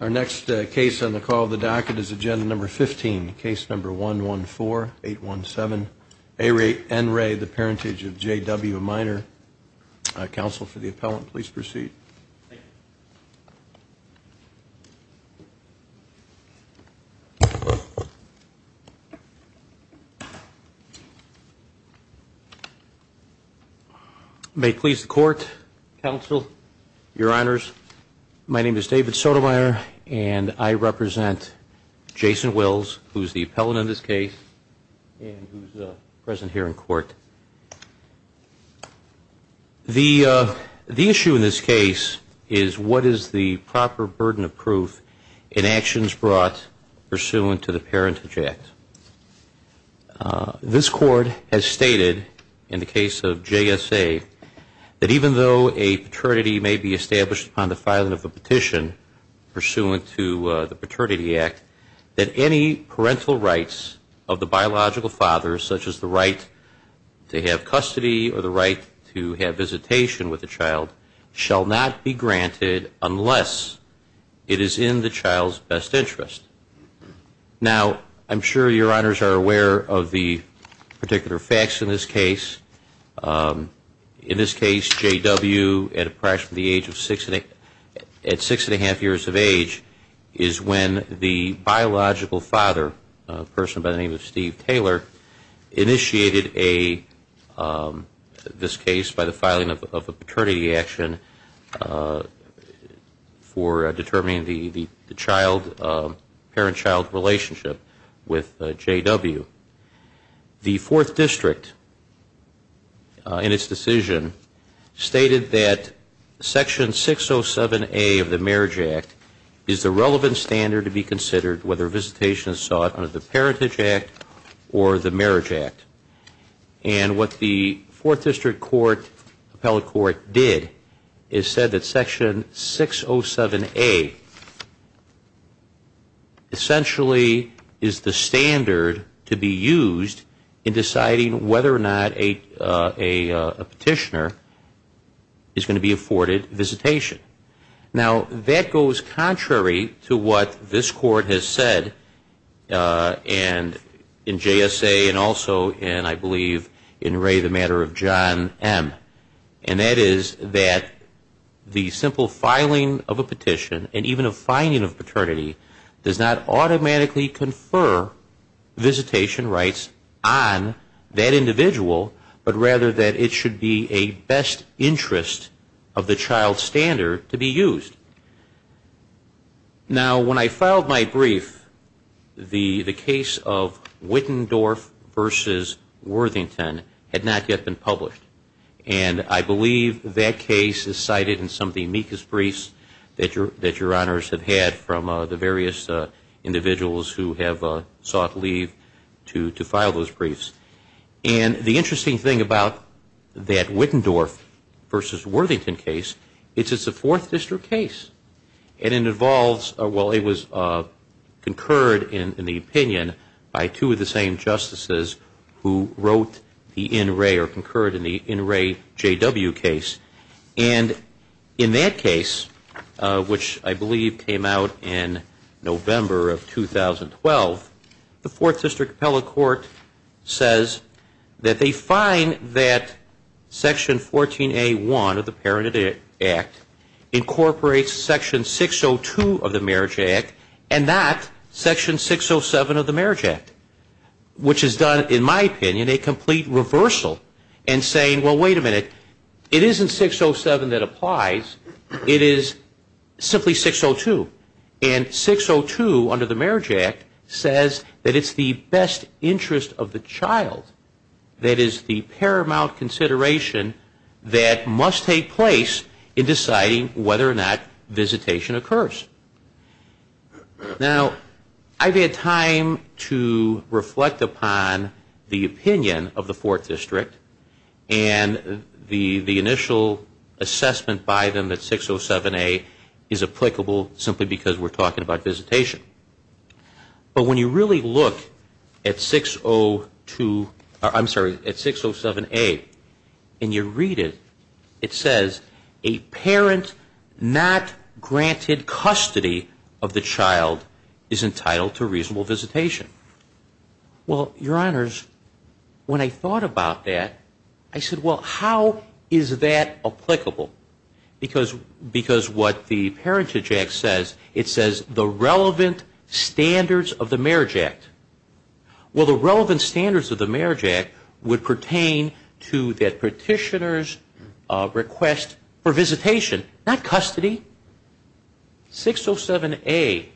Our next case on the call of the docket is agenda number 15 case number 1 1 4 8 1 7 a rate and Ray the Parentage of J.W. Minor Council for the appellant please proceed. Thank you. May please the court counsel your honors. My name is David Sotomayor and I represent Jason Wills who's the appellant in this case and who's present here in court. The issue in this case is what is the proper burden of proof in actions brought pursuant to the Parentage Act. This court has stated in the case of J.S.A. that even though a paternity may be established upon the filing of a petition pursuant to the custody or the right to have visitation with the child shall not be granted unless it is in the child's best interest. Now I'm sure your honors are aware of the particular facts in this case. In this case J.W. at approximately the age of six and a half years of age is when the biological father, a person by the name of Steve Taylor, initiated this case by the filing of a paternity action for determining the parent-child relationship with J.W. The fourth district in its decision stated that Section 607A of the Marriage Act is the relevant standard to be considered whether visitation is sought under the Parentage Act or the Marriage Act. And what the fourth district court, appellate court, did is said that Section 607A essentially is the standard to be used in deciding whether or not a petitioner is going to be afforded visitation. Now that goes contrary to what this court has said and in J.S.A. and also in, I believe, in Ray, the matter of John M. And that is that the simple filing of a petition and even a fining of paternity does not automatically confer visitation rights on that Now when I filed my brief, the case of Wittendorf v. Worthington had not yet been published. And I believe that case is cited in some of the amicus briefs that your honors have had from the various individuals who have sought leave to file those briefs. And the interesting thing about that Wittendorf v. Worthington case is it's a fourth district case. And it involves, well, it was concurred in the opinion by two of the same justices who wrote the in Ray or concurred in the in Ray J.W. case. And in that case, which I believe came out in November of 2012, the fourth district appellate court says that they find that section 14A1 of the Parenthood Act incorporates section 602 of the Marriage Act and not section 607 of the Marriage Act, which has done, in my opinion, a complete reversal in saying, well, wait a minute, it isn't 607 that applies, it is simply 602. And 602 under the Marriage Act says that it's the best interest of the child that is the paramount consideration that must take place in deciding whether or not visitation occurs. Now, I've had time to reflect upon the opinion of the fourth district and the initial assessment by them that 607A is applicable simply because we're talking about visitation. But when you really look at 602, I'm sorry, at 607A and you read it, it says a parent not granted custody of the child is entitled to reasonable visitation. Well, Your Honors, when I thought about that, I said, well, how is that applicable? Because what the Parenthood Act says, it says the relevant standards of the Marriage Act. Well, the relevant standards of the Marriage Act would pertain to that petitioner's request for visitation, not custody. 607A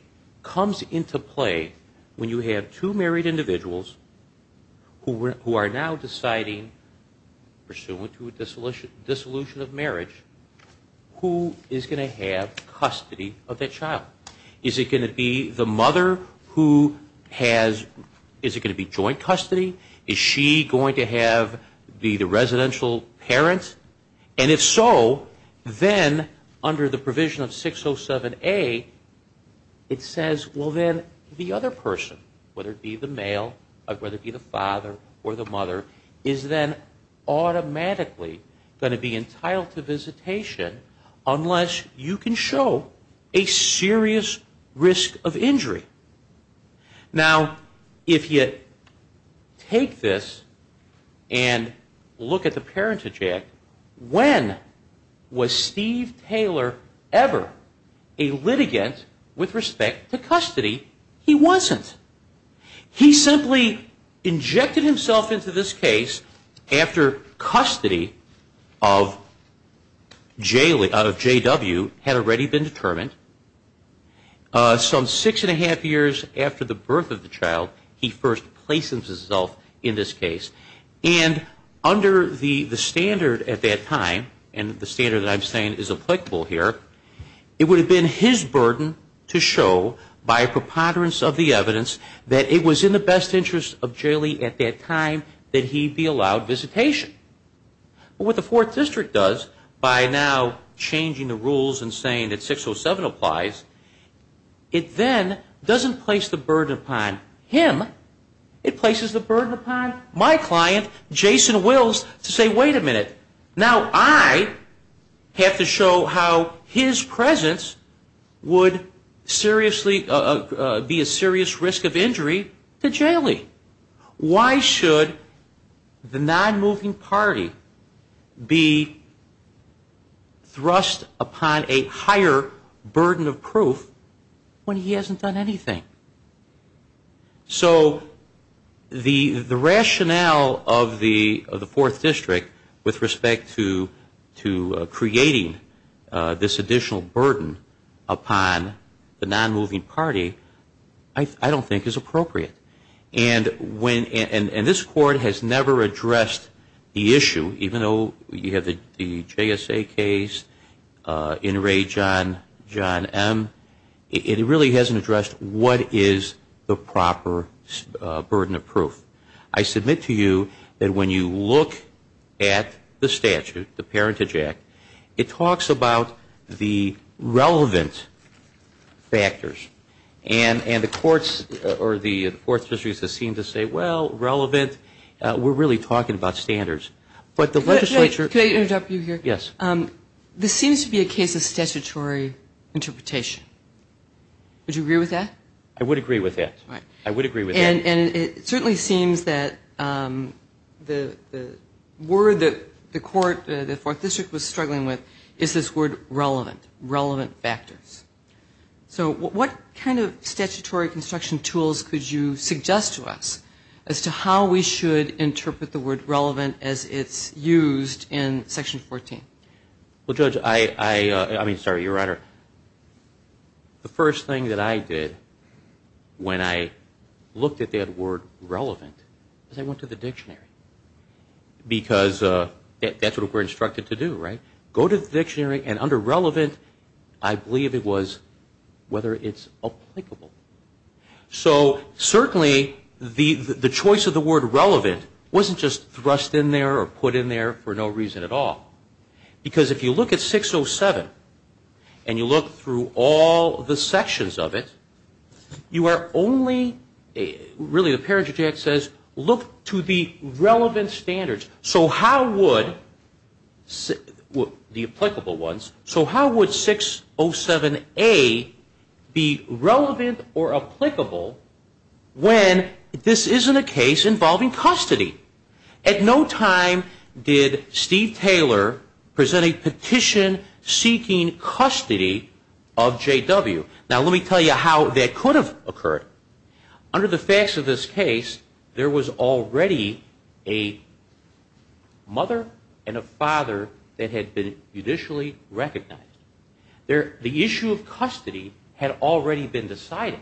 comes into play when you have two married individuals who are now deciding, pursuant to a dissolution of marriage, who is going to have custody of that child. Is it going to be the mother who has, is it going to be joint custody? Is she going to have, be the residential parent? And if so, then under the provision of 607A, it says, well, then the other person, whether it be the male, whether it be the father or the mother, is then automatically going to be entitled to visitation unless you can show a serious risk of injury. Now, if you take this and look at the Parenthood Act, when was Steve Taylor ever a litigant with respect to custody? He wasn't. He simply injected himself into this case after custody of J.W. had already been determined. Some six and a half years after the birth of the child, he first places himself in this case. And under the standard at that time, and the standard that I'm saying is applicable here, it would have been his burden to show by a preponderance of the evidence that it was in the best interest of J.W. at that time that he be allowed visitation. But what the Fourth District does by now changing the rules and saying that 607 applies, it then doesn't place the burden upon him, it places the burden upon my client, Jason Wills, to say, wait a minute, now I have to show how his presence would seriously be a serious risk of injury to Jaley. Why should the non-moving party be thrust upon a higher burden of proof when he hasn't done anything? So the rationale of the Fourth District with respect to creating this additional burden upon the non-moving party, I don't think is appropriate. And when, and this Court has never addressed the issue, even though you have the JSA case, in re John M., it really hasn't addressed what is the proper burden of proof. I submit to you that when you look at the statute, the Parentage Act, it talks about the relevant factors. And the courts, or the Fourth District, seem to say, well, relevant, we're really talking about standards. But the legislature Can I interrupt you here? Yes. This seems to be a case of statutory interpretation. Would you agree with that? I would agree with that. I would agree with that. And it certainly seems that the word that the Court, the Fourth District was struggling with, is this word relevant, relevant factors. So what kind of statutory construction tools could you suggest to us as to how we should interpret the word relevant as it's used in Section 14? Well, Judge, I mean, sorry, Your Honor, the first thing that I did when I looked at that word relevant is I went to the dictionary. Because that's what we're talking about. And the word relevant, I believe it was whether it's applicable. So certainly the choice of the word relevant wasn't just thrust in there or put in there for no reason at all. Because if you look at 607, and you look through all the sections of it, you are only, really, the Parentage Act says, look to the relevant standards. So how would, the applicable ones, so how would 607A be relevant or applicable when this isn't a case involving custody? At no time did Steve Taylor present a petition seeking custody of J.W. Now, let me tell you how that could have occurred. Under the facts of this case, there was already a mother and a father that had been euthanized. And there was a mother and a father that had been officially recognized. The issue of custody had already been decided.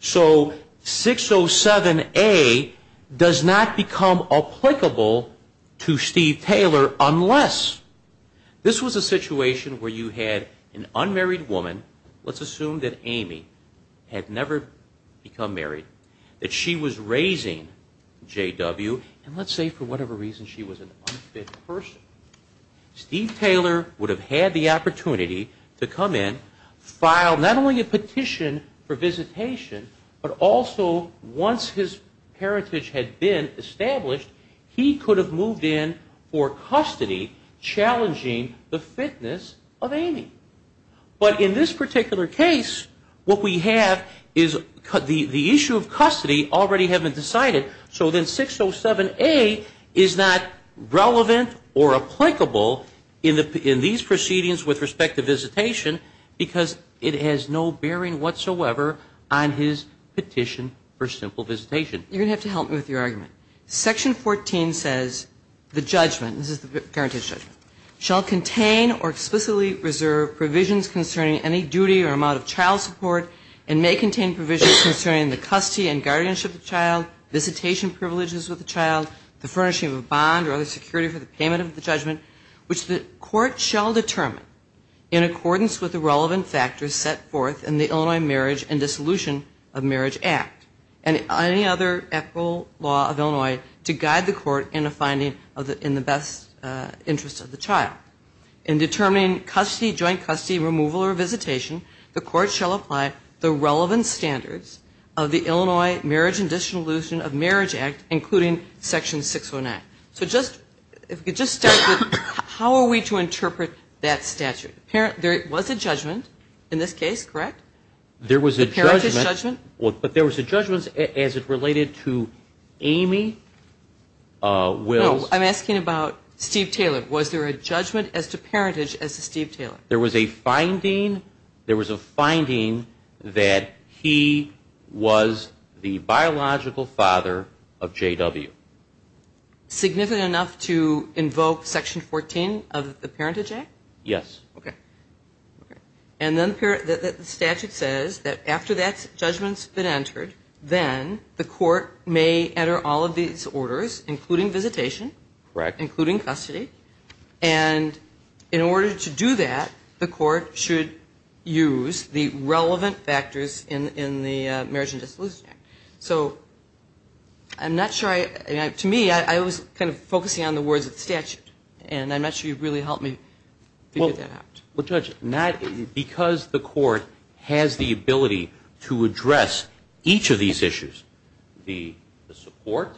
So 607A does not become applicable to Steve Taylor unless, this was a situation where you had an unmarried woman, let's assume that Amy had never become married, that she was raising J.W., and let's say for whatever reason she was an unfit person. Steve Taylor would have had the opportunity to come in, file not only a petition for visitation, but also once his parentage had been established, he could have moved in for custody, challenging the fitness of Amy. But in this particular case, what we have is the issue of custody already had been decided. So then 607A is not relevant or applicable in these proceedings with respect to visitation because it has no bearing whatsoever on his petition for simple visitation. You're going to have to help me with your argument. Section 14 says the judgment, this is the guaranteed judgment, shall contain or explicitly reserve provisions concerning any duty or amount of child support and may contain provisions concerning the custody and guardianship of the child, visitation privileges with the child, the furnishing of a bond or other security for the payment of the judgment, which the court shall determine in accordance with the relevant factors set forth in the Illinois Marriage and Dissolution of Marriage Act and any other applicable law of Illinois to guide the court in a finding in the best interest of the child. In determining custody, joint custody, removal or visitation, the court shall apply the relevant standards of the Illinois Marriage and Dissolution of Marriage Act, including Section 609. So just, if we could just start with how are we to interpret that statute? There was a judgment in this case, correct? The parentage judgment? There was a judgment, but there was a judgment as it related to Amy Wills. No, I'm asking about Steve Taylor. Was there a judgment as to parentage as to Steve Taylor? There was a finding, there was a finding that he was the biological father of Amy Wills. Significant enough to invoke Section 14 of the Parentage Act? Yes. Okay. And then the statute says that after that judgment's been entered, then the court may enter all of these orders, including visitation. Correct. Including custody. And in order to do that, the court should use the relevant factors in the Marriage and Dissolution Act. So I'm not saying that I'm not sure I, to me, I was kind of focusing on the words of the statute, and I'm not sure you really helped me figure that out. Well, Judge, because the court has the ability to address each of these issues, the support,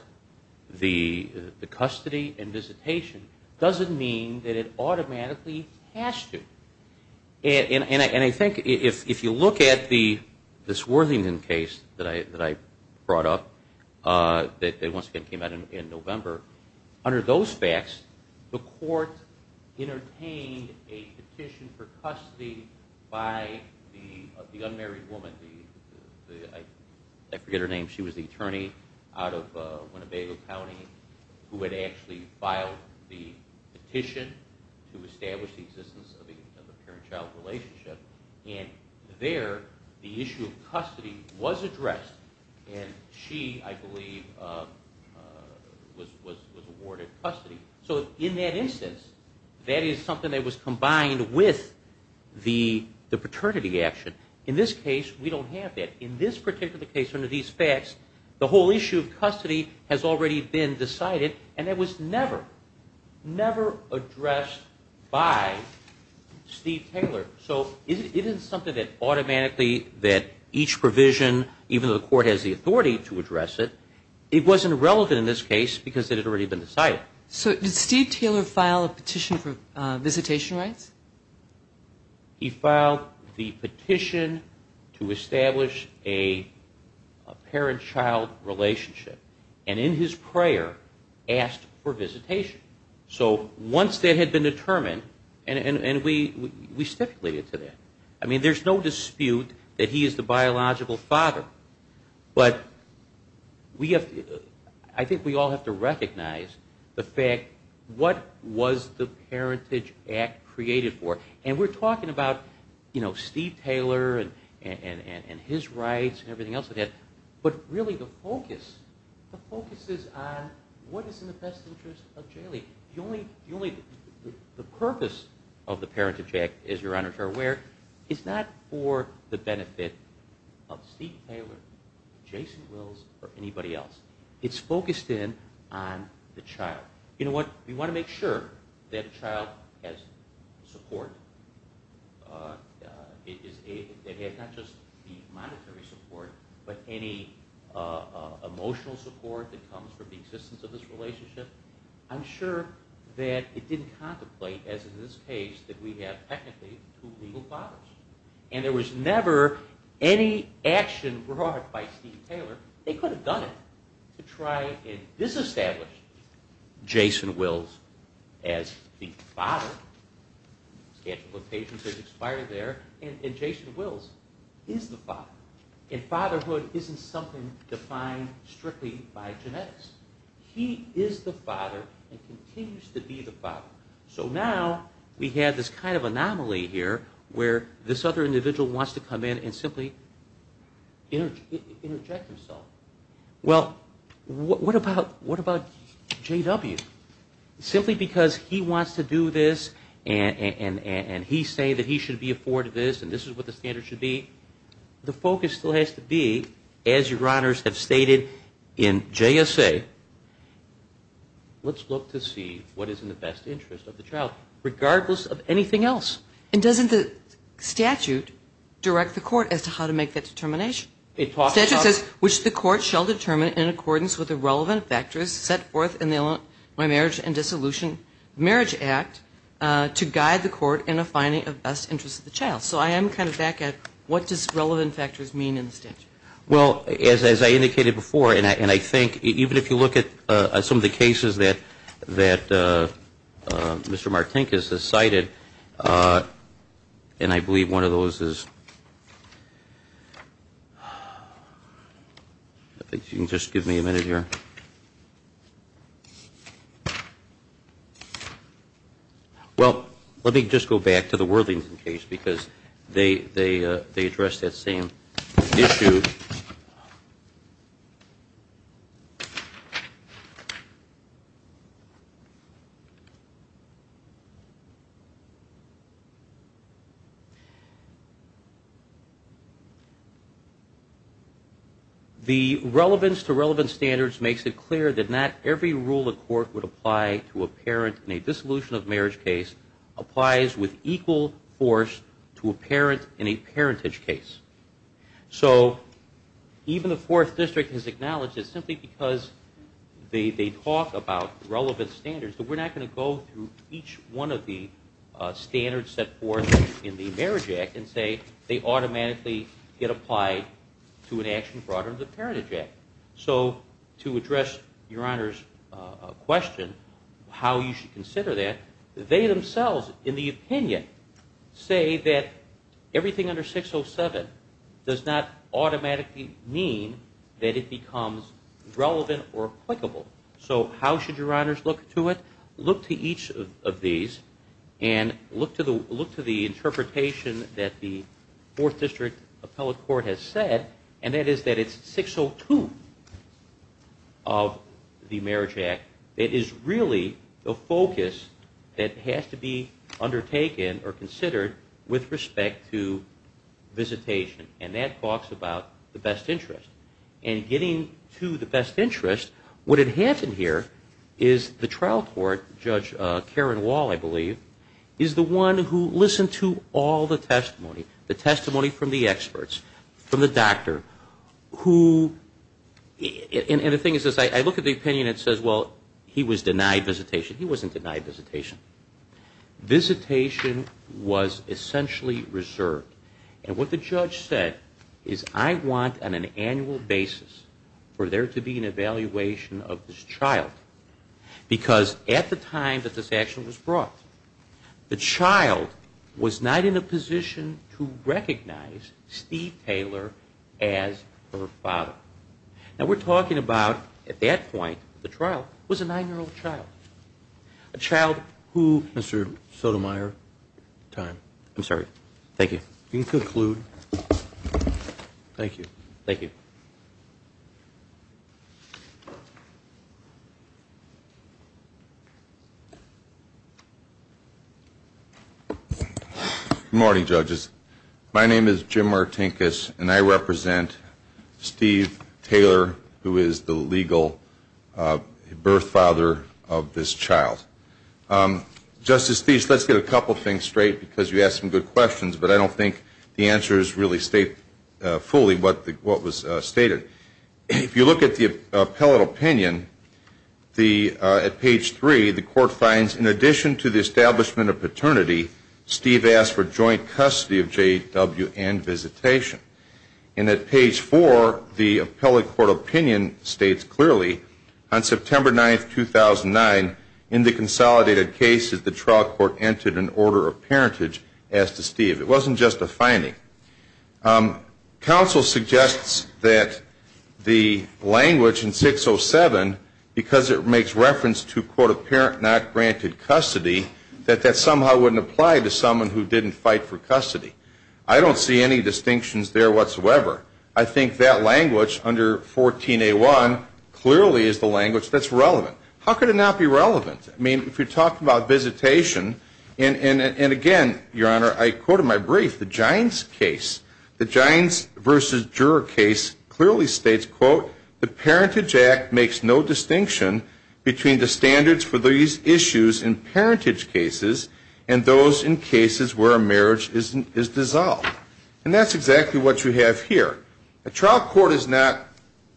the custody and visitation, doesn't mean that it automatically has to. And I think if you look at the, this Worthington case that I brought up, that was a case that was once again came out in November. Under those facts, the court entertained a petition for custody by the unmarried woman, I forget her name, she was the attorney out of Winnebago County, who had actually filed the petition to establish the existence of a parent-child relationship. And there, the issue of custody was addressed, and she, I believe, filed the petition. Was awarded custody. So in that instance, that is something that was combined with the paternity action. In this case, we don't have that. In this particular case, under these facts, the whole issue of custody has already been decided, and that was never, never addressed by Steve Taylor. So it isn't something that automatically, that each provision, even though the court has the authority to address it, it wasn't relevant to the case because it had already been decided. So did Steve Taylor file a petition for visitation rights? He filed the petition to establish a parent-child relationship. And in his prayer, asked for visitation. So once that had been determined, and we stipulated to that. I mean, there's no dispute that he is the biological father. But we have to, I mean, we have to, we have to recognize, I think we all have to recognize the fact, what was the Parentage Act created for? And we're talking about, you know, Steve Taylor and his rights and everything else that it had. But really, the focus, the focus is on what is in the best interest of Jaylee. The only, the purpose of the Parentage Act, as your honors are aware, is not for the benefit of Steve Taylor, Jason Wills, or anybody else. It's focused on the child. You know what, we want to make sure that the child has support, that he has not just the monetary support, but any emotional support that comes from the existence of this relationship. I'm sure that it didn't contemplate, as in this case, that we have technically two legal fathers. And there was never any action brought by Steve Taylor, they could have done it, to try and have a child. And this established Jason Wills as the father, and Jason Wills is the father. And fatherhood isn't something defined strictly by genetics. He is the father, and continues to be the father. So now, we have this kind of anomaly here, where this other individual wants to come in and simply interject himself. Well, what about the father? What about the father? What about the father? What about the father? What about J.W.? Simply because he wants to do this, and he say that he should be afforded this, and this is what the standard should be, the focus still has to be, as your honors have stated in JSA, let's look to see what is in the best interest of the child, regardless of anything else. And doesn't the statute direct the court as to how to make that determination? Statute says, which the court shall determine in accordance with the relevant factors set forth in the marriage and dissolution marriage act, to guide the court in a finding of best interest of the child. So I am kind of back at, what does relevant factors mean in the statute? Well, as I indicated before, and I think, even if you look at some of the cases that Mr. Martinkus has cited, and I believe one of those is, I think you can just give me a minute here. Well, let me just go back to the Worthington case, because they address that same issue. The relevance to relevant standards makes it clear that not every rule a court would apply to a parent in a dissolution of marriage case applies with equal force to a parent in a parentage case. So, even the 4th district has acknowledged that simply because they talk about relevant standards, that we're not going to go through each one of the standards set forth in the marriage act and say they automatically get applied to an action brought under the parentage act. So, to address your honors question, how you should consider that, they themselves, in the opinion, say that everything under 607 applies with equal force to a parent in a parentage case. But 607 does not automatically mean that it becomes relevant or applicable. So, how should your honors look to it? Look to each of these, and look to the interpretation that the 4th district appellate court has said, and that is that it's 602 of the marriage act that is really the focus that has to be undertaken or considered with respect to visitation. And that talks about the best interest. And getting to the best interest, what had happened here is the trial court, Judge Karen Wall, I believe, is the one who listened to all the testimony, the testimony from the experts, from the doctor, who, and the thing is this, I look at the opinion and it says, well, he was denied visitation. He wasn't denied visitation. Visitation was essentially reserved. And what the judge said is, I want on an annual basis for there to be an evaluation of this child. Because at the time that this action was brought, the child was not in a position to recognize Steve Taylor as her father. Now, we're talking about, at that point, the trial was a 9-year-old child. A child who, Mr. Sotomayor, time. I'm sorry. Thank you. Good morning, judges. My name is Jim Martinkus and I represent Steve Taylor, who is the legal birth father of this child. Justice Steeves, let's get a couple of things straight, because you asked some good questions, but I don't think the answers really state fully what was stated. If you look at the appellate opinion, at page 3, the court finds, in addition to the establishment of paternity, Steve asked for joint custody of J.W. and visitation. And at page 4, the appellate court opinion states clearly, on September 9, 2009, in the consideration of J.W. and visitation, J.W. was denied visitation. And at page 5, the appellate court opinion states that the trial court entered an order of parentage as to Steve. It wasn't just a finding. Counsel suggests that the language in 607, because it makes reference to, quote, a parent not granted custody, that that somehow wouldn't apply to someone who didn't fight for custody. I don't see any distinctions there whatsoever. I think that language under 14A1 clearly is the language that's relevant. If you're talking about visitation, and again, Your Honor, I quote in my brief, the Gines case, the Gines v. Juror case clearly states, quote, the parentage act makes no distinction between the standards for these issues in parentage cases and those in cases where a marriage is dissolved. And that's exactly what you have here. A trial court is not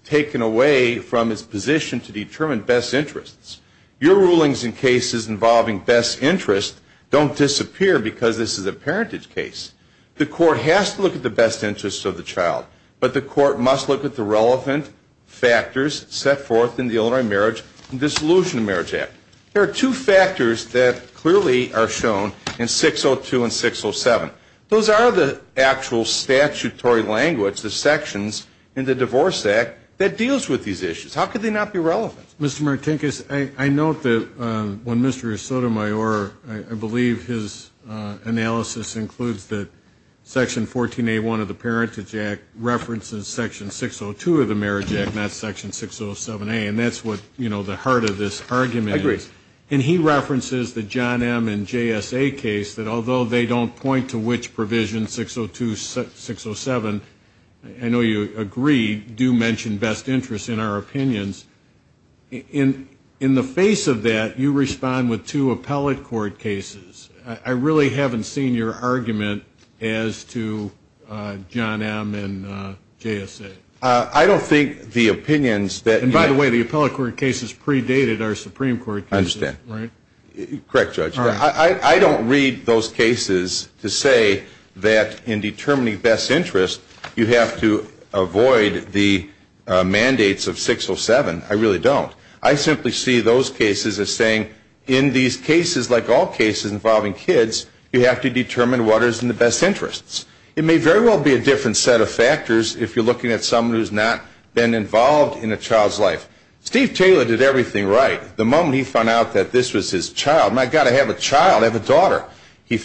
taken away from its position to determine best interests. Your rulings in cases involving best interests don't disappear because this is a parentage case. The court has to look at the best interests of the child, but the court must look at the relevant factors set forth in the Illinois Marriage and Dissolution of Marriage Act. There are two factors that clearly are shown in 602 and 607. Those are the actual statutory language, the sections in the Divorce Act, that deals with these issues. How could they not be relevant? Mr. Martinkus, I note that when Mr. Sotomayor, I believe his analysis includes that section 14A1 of the Parentage Act references section 602 of the Marriage Act, not section 607A, and that's what, you know, the heart of this argument is. I agree. And he references the John M. and J.S.A. case that although they don't point to which provision, 602, 607, I know you agree, do mention best interests in our opinions. In the face of that, you respond with two appellate court cases. I really haven't seen your argument as to John M. and J.S.A. I don't think the opinions that you have And by the way, the appellate court cases predated our Supreme Court cases. I understand. Correct, Judge. I don't read those cases to say that in determining best interests, you have to avoid the mandates of 607. I really don't. I simply see those cases as saying in these cases, like all cases involving kids, you have to determine what is in the best interests. It may very well be a different set of factors if you're looking at someone who's not been involved in a child's life. Steve Taylor did everything right the moment he found out that this was his child. My God, I have a child, I have a daughter. He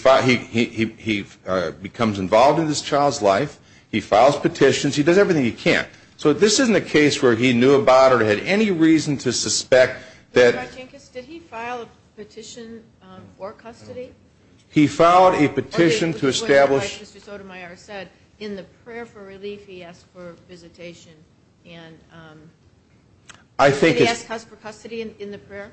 becomes involved in this child's life, he files petitions, he does everything he can. So this isn't a case where he knew about it or had any reason to suspect that Judge Marchinkus, did he file a petition for custody? He filed a petition to establish Like Mr. Sotomayor said, in the prayer for relief, he asked for visitation. Did he ask for custody in the prayer?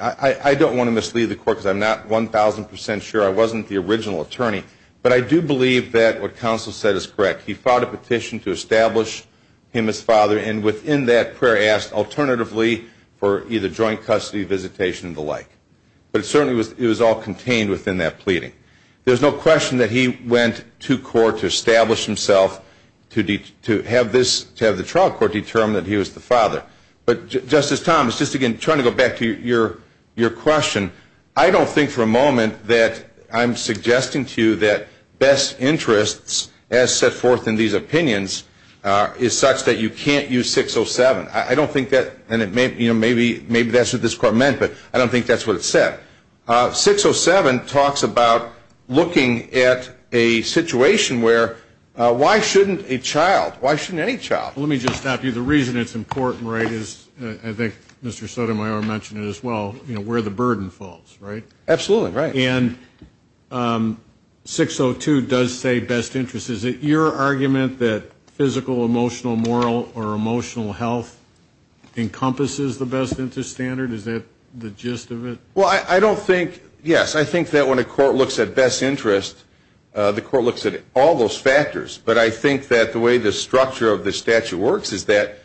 I don't want to mislead the court because I'm not 1,000% sure. I wasn't the original attorney, but I do believe that what counsel said is correct. He filed a petition to establish him as father, and within that prayer asked alternatively for either joint custody, visitation, and the like. But it certainly was all contained within that pleading. There's no question that he went to court to establish himself to have the trial court determine that he was the father. But Justice Thomas, just again, trying to go back to your question I don't think for a moment that I'm suggesting to you that best interests as set forth in these opinions is such that you can't use 607. Maybe that's what this court meant, but I don't think that's what it said. 607 talks about looking at a situation where why shouldn't a child, why shouldn't any child? Let me just stop you. The reason it's important, right, is I think Mr. Sotomayor mentioned it as well, where the burden falls, right? Absolutely, right. And 602 does say best interests. Is it your argument that physical, emotional, moral, or emotional health encompasses the best interest standard? Is that the gist of it? Well, I don't think, yes, I think that when a court looks at best interests the court looks at all those factors, but I think that the way the structure of the statute works is that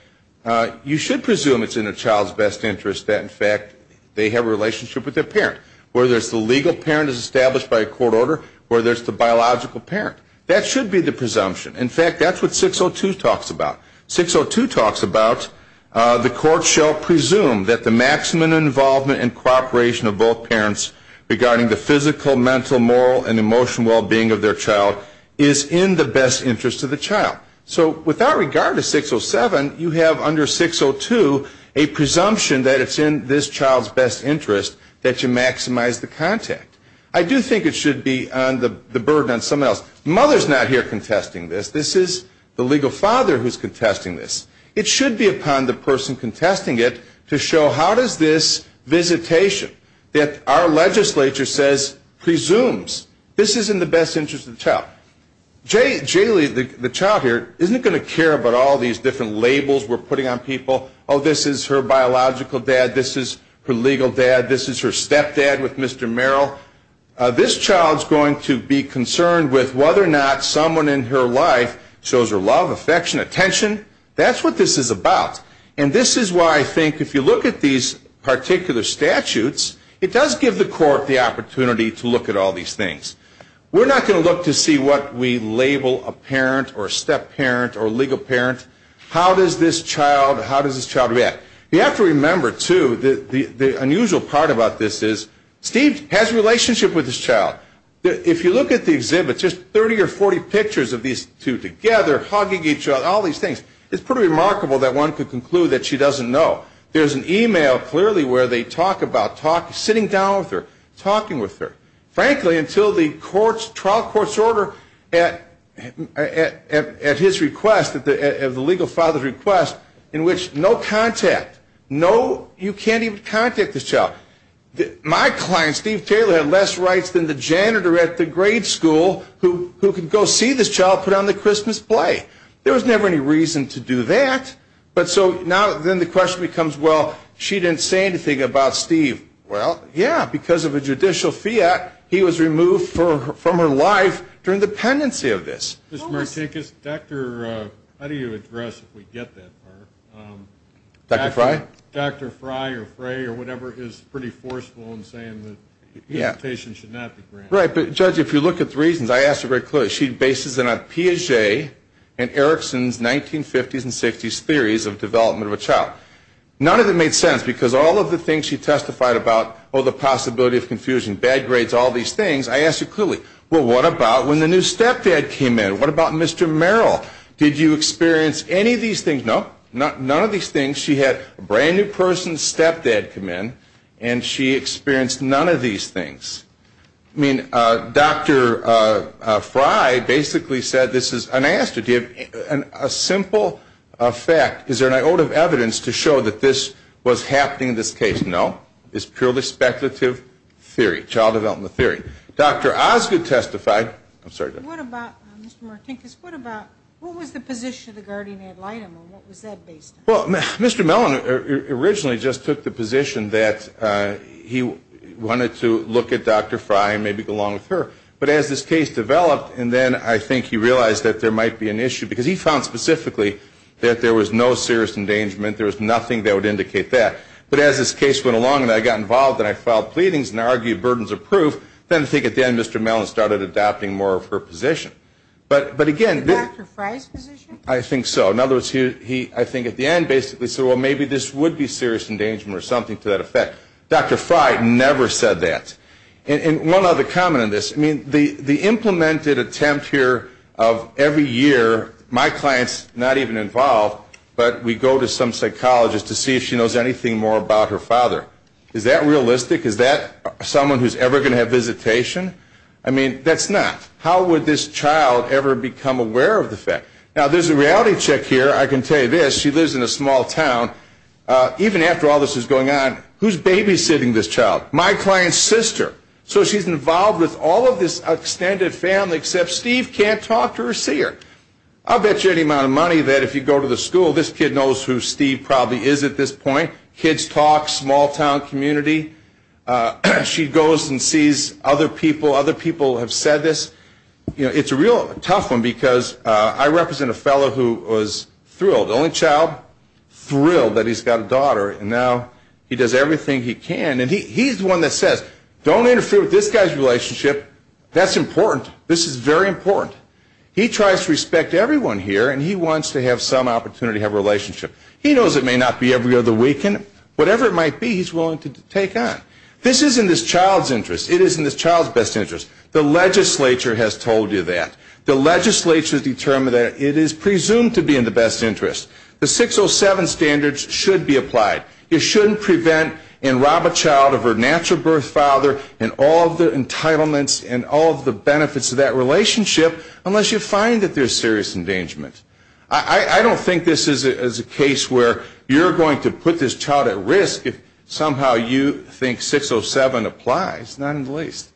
you should presume it's in a child's best interest that, in fact, they have a relationship with their parent. Where there's the legal parent as established by a court order, where there's the biological parent. That should be the presumption. In fact, that's what 602 talks about. 602 talks about the court shall presume that the maximum involvement and cooperation of both parents regarding the physical, mental, moral, and emotional well-being of their child is in the best interest of the child. So with that regard to 607, you have under 602 a presumption that it's in this child's best interest that you maximize the contact. I do think it should be on the burden on someone else. Mother's not here contesting this. This is the legal father who's contesting this. It should be upon the person contesting it to show how does this visitation that our legislature says presumes this is in the best interest of the child. Jaylee, the child here, isn't going to care about all these different labels we're putting on people. Oh, this is her biological dad. This is her legal dad. This is her stepdad with Mr. Merrill. This child's going to be concerned with whether or not someone in her life shows her love, affection, attention. That's what this is about. And this is why I think if you look at these particular statutes, it does give the court the opportunity to look at all these things. We're not going to look to see what we label a parent or a step-parent or a legal parent. How does this child react? You have to remember, too, the unusual part about this is Steve has a relationship with this child. If you look at the exhibit, just 30 or 40 pictures of these two together hugging each other, all these things, it's pretty remarkable that one could conclude that she doesn't know. There's an email clearly where they talk about sitting down with her, talking with her. Frankly, until the trial court's order at his request, at the legal father's request, in which no contact, you can't even contact this child. My client, Steve Taylor, had less rights than the janitor at the grade school who could go see this child put on the Christmas play. There was never any reason to do that. But so now then the question becomes, well, she didn't say anything about Steve. Well, yeah, because of a judicial fiat, he was removed from her life during the pendency of this. Mr. Martinkus, how do you address, if we get that part, Dr. Fry or Fray or whatever is pretty forceful in saying that the invitation should not be granted? Right, but judge, if you look at the reasons, I asked her very clearly. She bases it on Piaget and Erickson's 1950s and 60s theories of development of a child. None of it made sense because all of the things she testified about, oh, the possibility of confusion, bad grades, all these things, I asked her clearly, well, what about when the new stepdad came in? What about Mr. Merrill? Did you experience any of these things? No, none of these things. She had a brand new person's stepdad come in and she experienced none of these things. I mean, Dr. Fry basically said this is, and I asked her, do you have a simple fact, is there an ode of evidence to show that this was happening in this case? No, it's purely speculative theory, child development theory. Dr. Osgood testified, I'm sorry. What about, Mr. Martinkus, what about, what was the position of the guardian ad litem and what was that based on? Well, Mr. Mellon originally just took the position that he wanted to look at Dr. Fry and maybe go along with her. But as this case developed and then I think he realized that there might be an issue, because he found specifically that there was no serious endangerment, there was nothing that would indicate that. But as this case went along and I got involved and I filed pleadings and I argued burdens of proof, then I think at the end Mr. Mellon started adopting more of her position. But again, did Dr. Fry's position? I think so. In other words, he, I think at the end basically said, well, maybe this would be better. Dr. Fry never said that. And one other comment on this. I mean, the implemented attempt here of every year my client's not even involved, but we go to some psychologist to see if she knows anything more about her father. Is that realistic? Is that someone who's ever going to have visitation? I mean, that's not. How would this child ever become aware of the fact? Now, there's a reality check here. I can tell you this. She lives in a small town. Even after all this is going on, who's babysitting this child? My client's sister. So she's involved with all of this extended family except Steve can't talk to her or see her. I'll bet you any amount of money that if you go to the school, this kid knows who Steve probably is at this point. Kids talk, small town community. She goes and sees other people. Other people have said this. It's a real tough one because I represent a fellow who was thrilled. The only child thrilled that he's got a daughter and now he does everything he can. And he's the one that says, don't interfere with this guy's relationship. That's important. This is very important. He tries to respect everyone here and he wants to have some opportunity to have a relationship. He knows it may not be every other weekend. Whatever it might be, he's willing to take on. This isn't this child's interest. It isn't this child's best interest. The legislature has told you that. The legislature has determined that it is presumed to be in the best interest. The 607 standards should be applied. You shouldn't prevent and rob a child of her natural birth father and all of the entitlements and all of the benefits of that relationship unless you find that there's serious endangerment. I don't think this is a case where you're going to put this child at risk if somehow you think 607 applies, not in the least.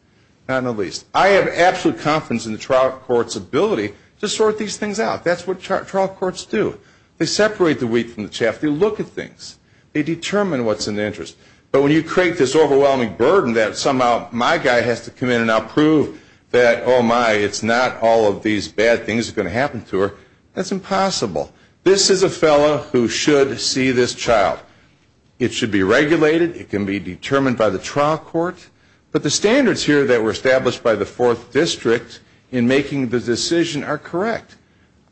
Not in the least. I have absolute confidence in the trial court's ability to sort these things out. That's what trial courts do. They separate the wheat from the chaff. They look at things. They determine what's in the interest. But when you create this overwhelming burden that somehow my guy has to come in and I'll prove that, oh my, it's not all of these bad things that are going to happen to her, that's impossible. This is a fellow who should see this child. It should be regulated. It can be determined by the trial court. But the standards here that were established by the 4th District in making the decision are correct.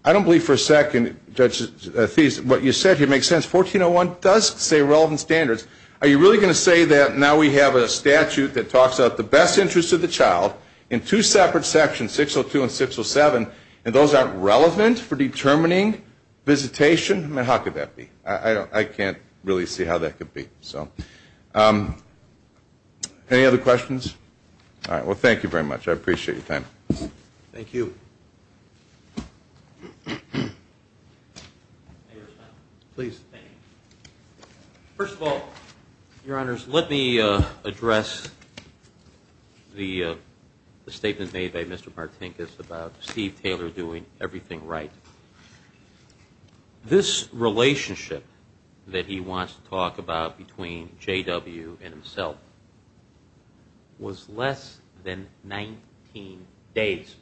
I don't believe for a second what you said here makes sense. 1401 does say relevant standards. Are you really going to say that now we have a statute that talks about the best interest of the child in two separate sections, 602 and 607, and those aren't relevant for determining visitation? How could that be? I can't really see how that could be. Any other questions? All right. Well, thank you very much. I appreciate your time. Thank you. First of all, Your Honors, let me address the statement made by Mr. Martinkus about Steve Taylor doing everything right. This relationship that he wants to talk about between J.W. and himself was less than 19 days.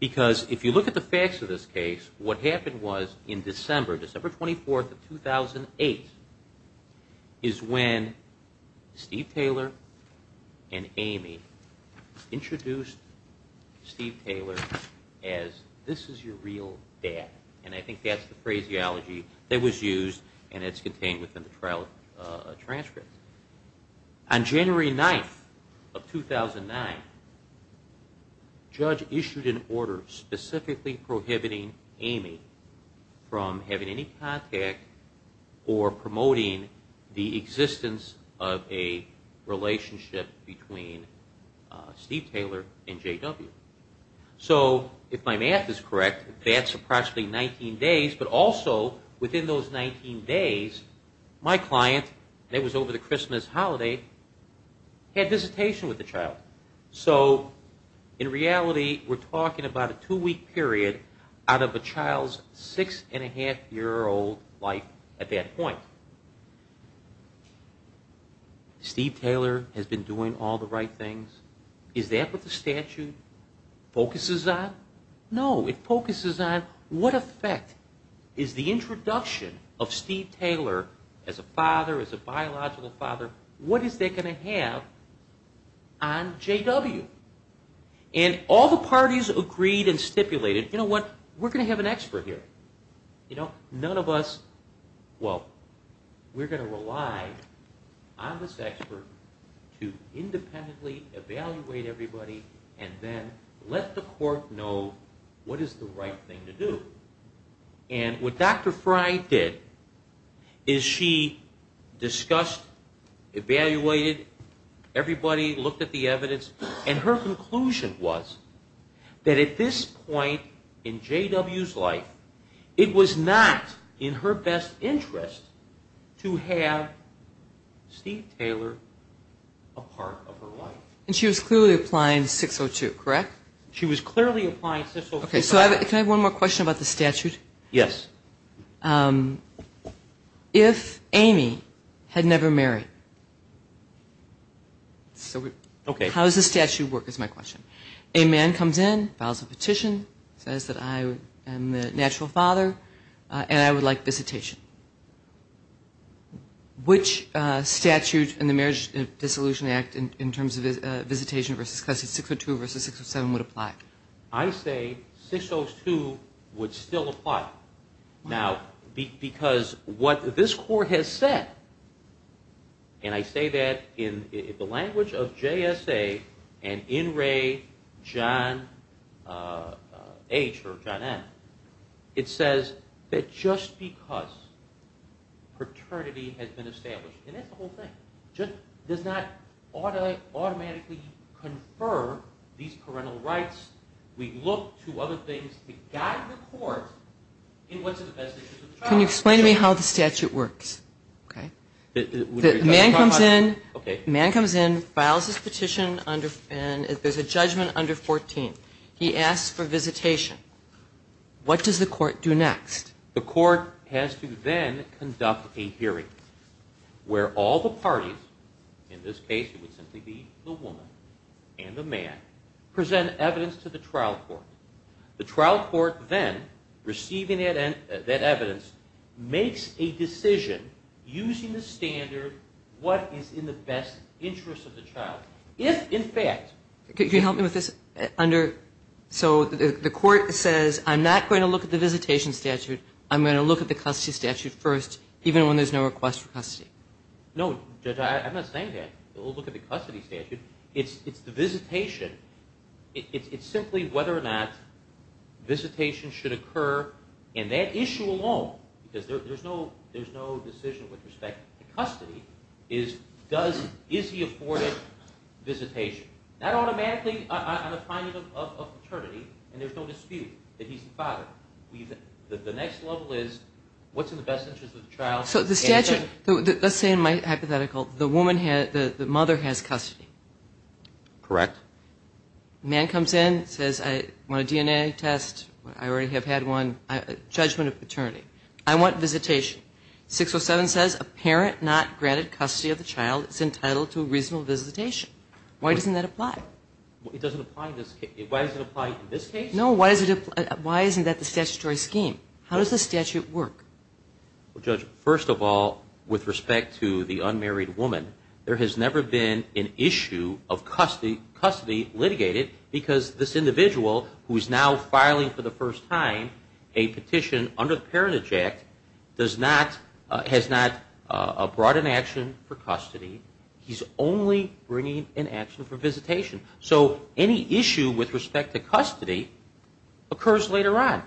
Because if you look at the facts of this case, what happened was in December, December 24, 2008, is when Steve Taylor and Amy introduced Steve Taylor as, this is your real dad. And I think that's the phraseology that was used and it's contained within the transcripts. On January 9th of 2009, Judge issued an order specifically prohibiting Amy from having any contact or promoting the existence of a relationship between Steve Taylor and J.W. So if my math is correct, that's approximately 19 days, but also within those 19 days, my client, and it was over the Christmas holiday, had visitation with the child. So in reality, we're talking about a two-week period out of a child's six-and-a-half-year-old life at that point. Steve Taylor has been doing all the right things. Is that what the statute focuses on? No. It focuses on what effect is the introduction of Steve Taylor as a father, as a biological father, what is that going to have on J.W.? And all the parties agreed and stipulated, you know what, we're going to have an expert here. None of us, well, we're going to rely on this expert to independently evaluate everybody and then let the court know what is the right thing to do. And what Dr. Frye did is she discussed, evaluated, everybody looked at the evidence, and her conclusion was that at this point in J.W.'s life, it was not in her best interest to have Steve Taylor a part of her life. And she was clearly applying 602, correct? She was clearly applying 602. Can I have one more question about the statute? Yes. If Amy had never married, how does the statute work is my question. A man comes in, files a petition, says that I am the natural father, and I would like visitation. Which statute in the Marriage Dissolution Act in terms of visitation versus 602 versus 607 would apply? I say 602 would still apply. Now, because what this court has said, and I say that in the language of J.S.A. and N. Ray, John H., or John N., it says that just because paternity has been established, and that's the whole thing, just does not automatically confer these parental rights. We look to other things to guide the court in what's in the best interest of the child. Can you explain to me how the statute works? A man comes in, files his petition, and there's a judgment under 14. He asks for visitation. What does the court do next? The court has to then conduct a hearing where all the parties, in this case it would simply be the woman and the man, present evidence to the trial court. The trial court then receiving that evidence makes a decision using the standard what is in the best interest of the child. If, in fact... Can you help me with this? So the court says, I'm not going to look at the visitation statute, I'm going to look at the custody statute first, even when there's no request for custody. No, Judge, I'm not saying that. We'll look at the custody statute. It's the visitation. It's simply whether or not visitation should occur, and that issue alone, because there's no decision with respect to custody, is he afforded visitation? Not automatically on a finding of paternity, and there's no dispute that he's the father. The next level is what's in the best interest of the child. So the statute, let's say in my hypothetical, the mother has custody. Correct. The man comes in, says I want a DNA test, I already have had one, judgment of paternity. I want visitation. 607 says a parent not granted custody of the child is entitled to a reasonable visitation. Why doesn't that apply? It doesn't apply in this case. Why does it apply in this case? No, why isn't that the statutory scheme? How does the statute work? Well, Judge, first of all, with respect to the unmarried woman, there has never been an issue of custody litigated because this individual who is now filing for the first time a petition under the Parentage Act has not brought an action for custody. He's only bringing an action for visitation. So any issue with respect to custody occurs later on.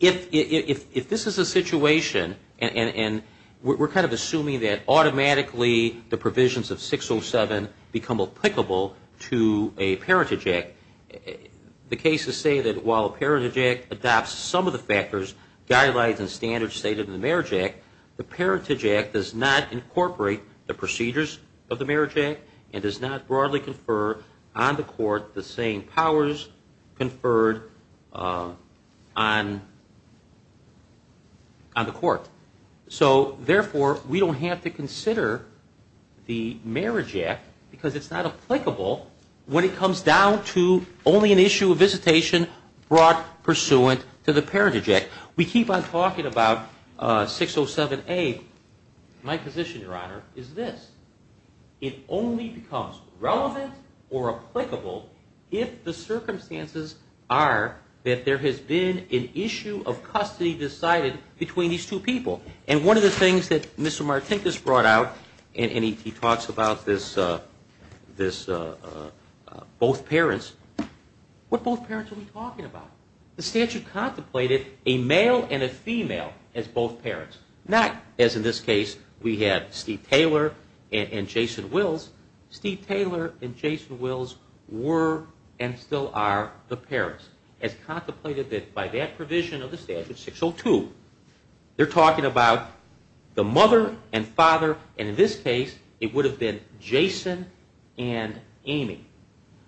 If this is a situation, and we're kind of assuming that automatically the provisions of 607 become applicable to a Parentage Act, the cases say that while a Parentage Act adopts some of the factors, guidelines and standards stated in the Marriage Act, the Parentage Act does not incorporate the procedures of the Marriage Act and does not broadly confer on the court the same powers conferred on the court. So therefore, we don't have to consider the Marriage Act because it's not applicable when it comes down to only an issue of visitation brought pursuant to the Parentage Act. We keep on talking about 607A. My position, Your Honor, is this. It only becomes relevant or applicable if the circumstances are that there has been an issue of custody decided between these two people. And one of the things that Mr. Martinkus brought out and he talks about this both parents, what both parents are we talking about? The statute contemplated a male and a female as both parents. Not, as in this case, we have Steve Taylor and Jason Wills were and still are the parents as contemplated by that provision of the statute 602. They're talking about the mother and father and in this case it would have been Jason and Amy.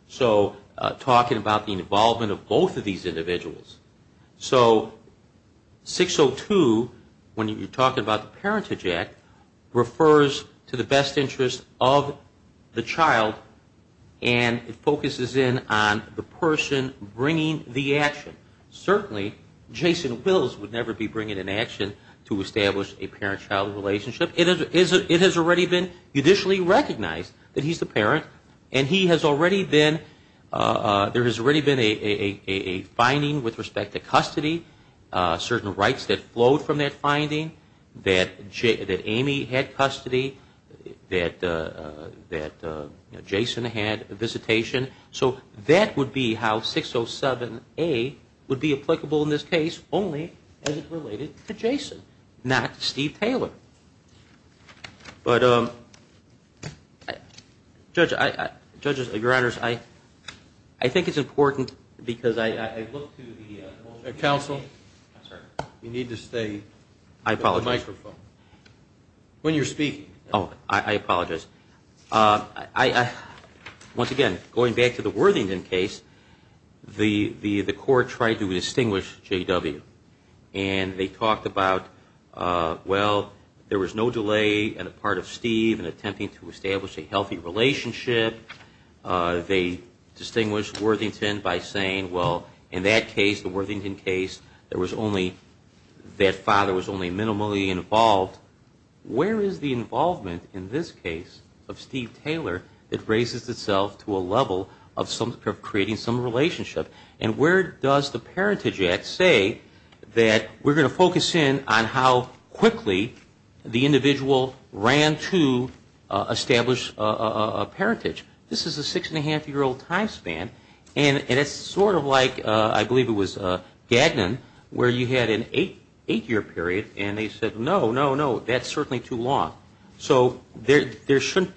So talking about the involvement of both of these individuals. So 602, when you're talking about the Parentage Act, refers to the best interest of the child and it focuses in on the person bringing the action. Certainly Jason Wills would never be bringing an action to establish a parent-child relationship. It has already been judicially recognized that he's the parent and he has already been, there has already been a finding with respect to custody, certain rights that flowed from that finding, that Amy had that Jason had visitation. So that would be how 607A would be applicable in this case only as it related to Jason, not Steve Taylor. But judges, your honors, I think it's important because I look to the... Counsel? You need to stay with the microphone. I apologize. Once again, going back to the Worthington case, the court tried to distinguish J.W. and they talked about, well there was no delay on the part of Steve in attempting to establish a healthy relationship. They distinguished Worthington by saying, well in that case, the Worthington case, there was only that father was only minimally involved. Where is the involvement in this case of Steve Taylor that raises itself to a level of creating some relationship? And where does the Parentage Act say that we're going to focus in on how quickly the individual ran to establish a parentage? This is a six and a half year old time span and it's sort of like, I believe it was Gagnon, where you had an eight year period and they said, that's certainly too long. So we shouldn't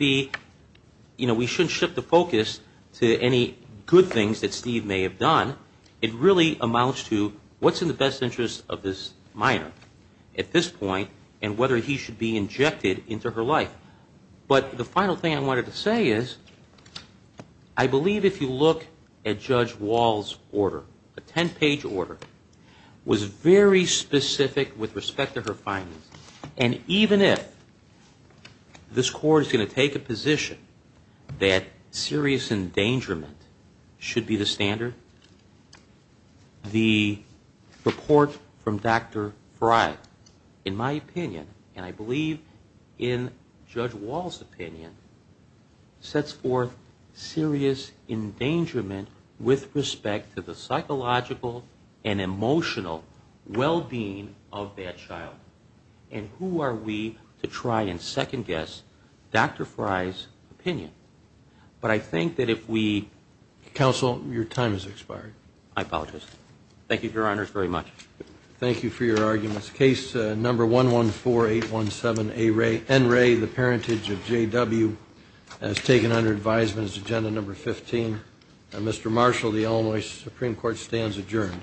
shift the focus to any good things that Steve may have done. It really amounts to what's in the best interest of this minor at this point and whether he should be injected into her life. But the final thing I wanted to say is I believe if you look at Judge Wall's order, a ten page order, was very specific with respect to her findings. And even if this court is going to take a position that serious endangerment should be the standard, the report from Dr. Frye, in my opinion, and I believe in Judge Wall's opinion, sets forth serious endangerment with respect to the psychological and emotional well-being of that child. And who are we to try and second guess Dr. Frye's opinion? But I think that if we... Counsel, your time has expired. I apologize. Thank you, Your Honors, very much. Thank you for your arguments. Case number 114817 N. Ray, the parentage of J.W. as taken under advisement is agenda number 15. Mr. Marshall, the Illinois Supreme Court stands adjourned.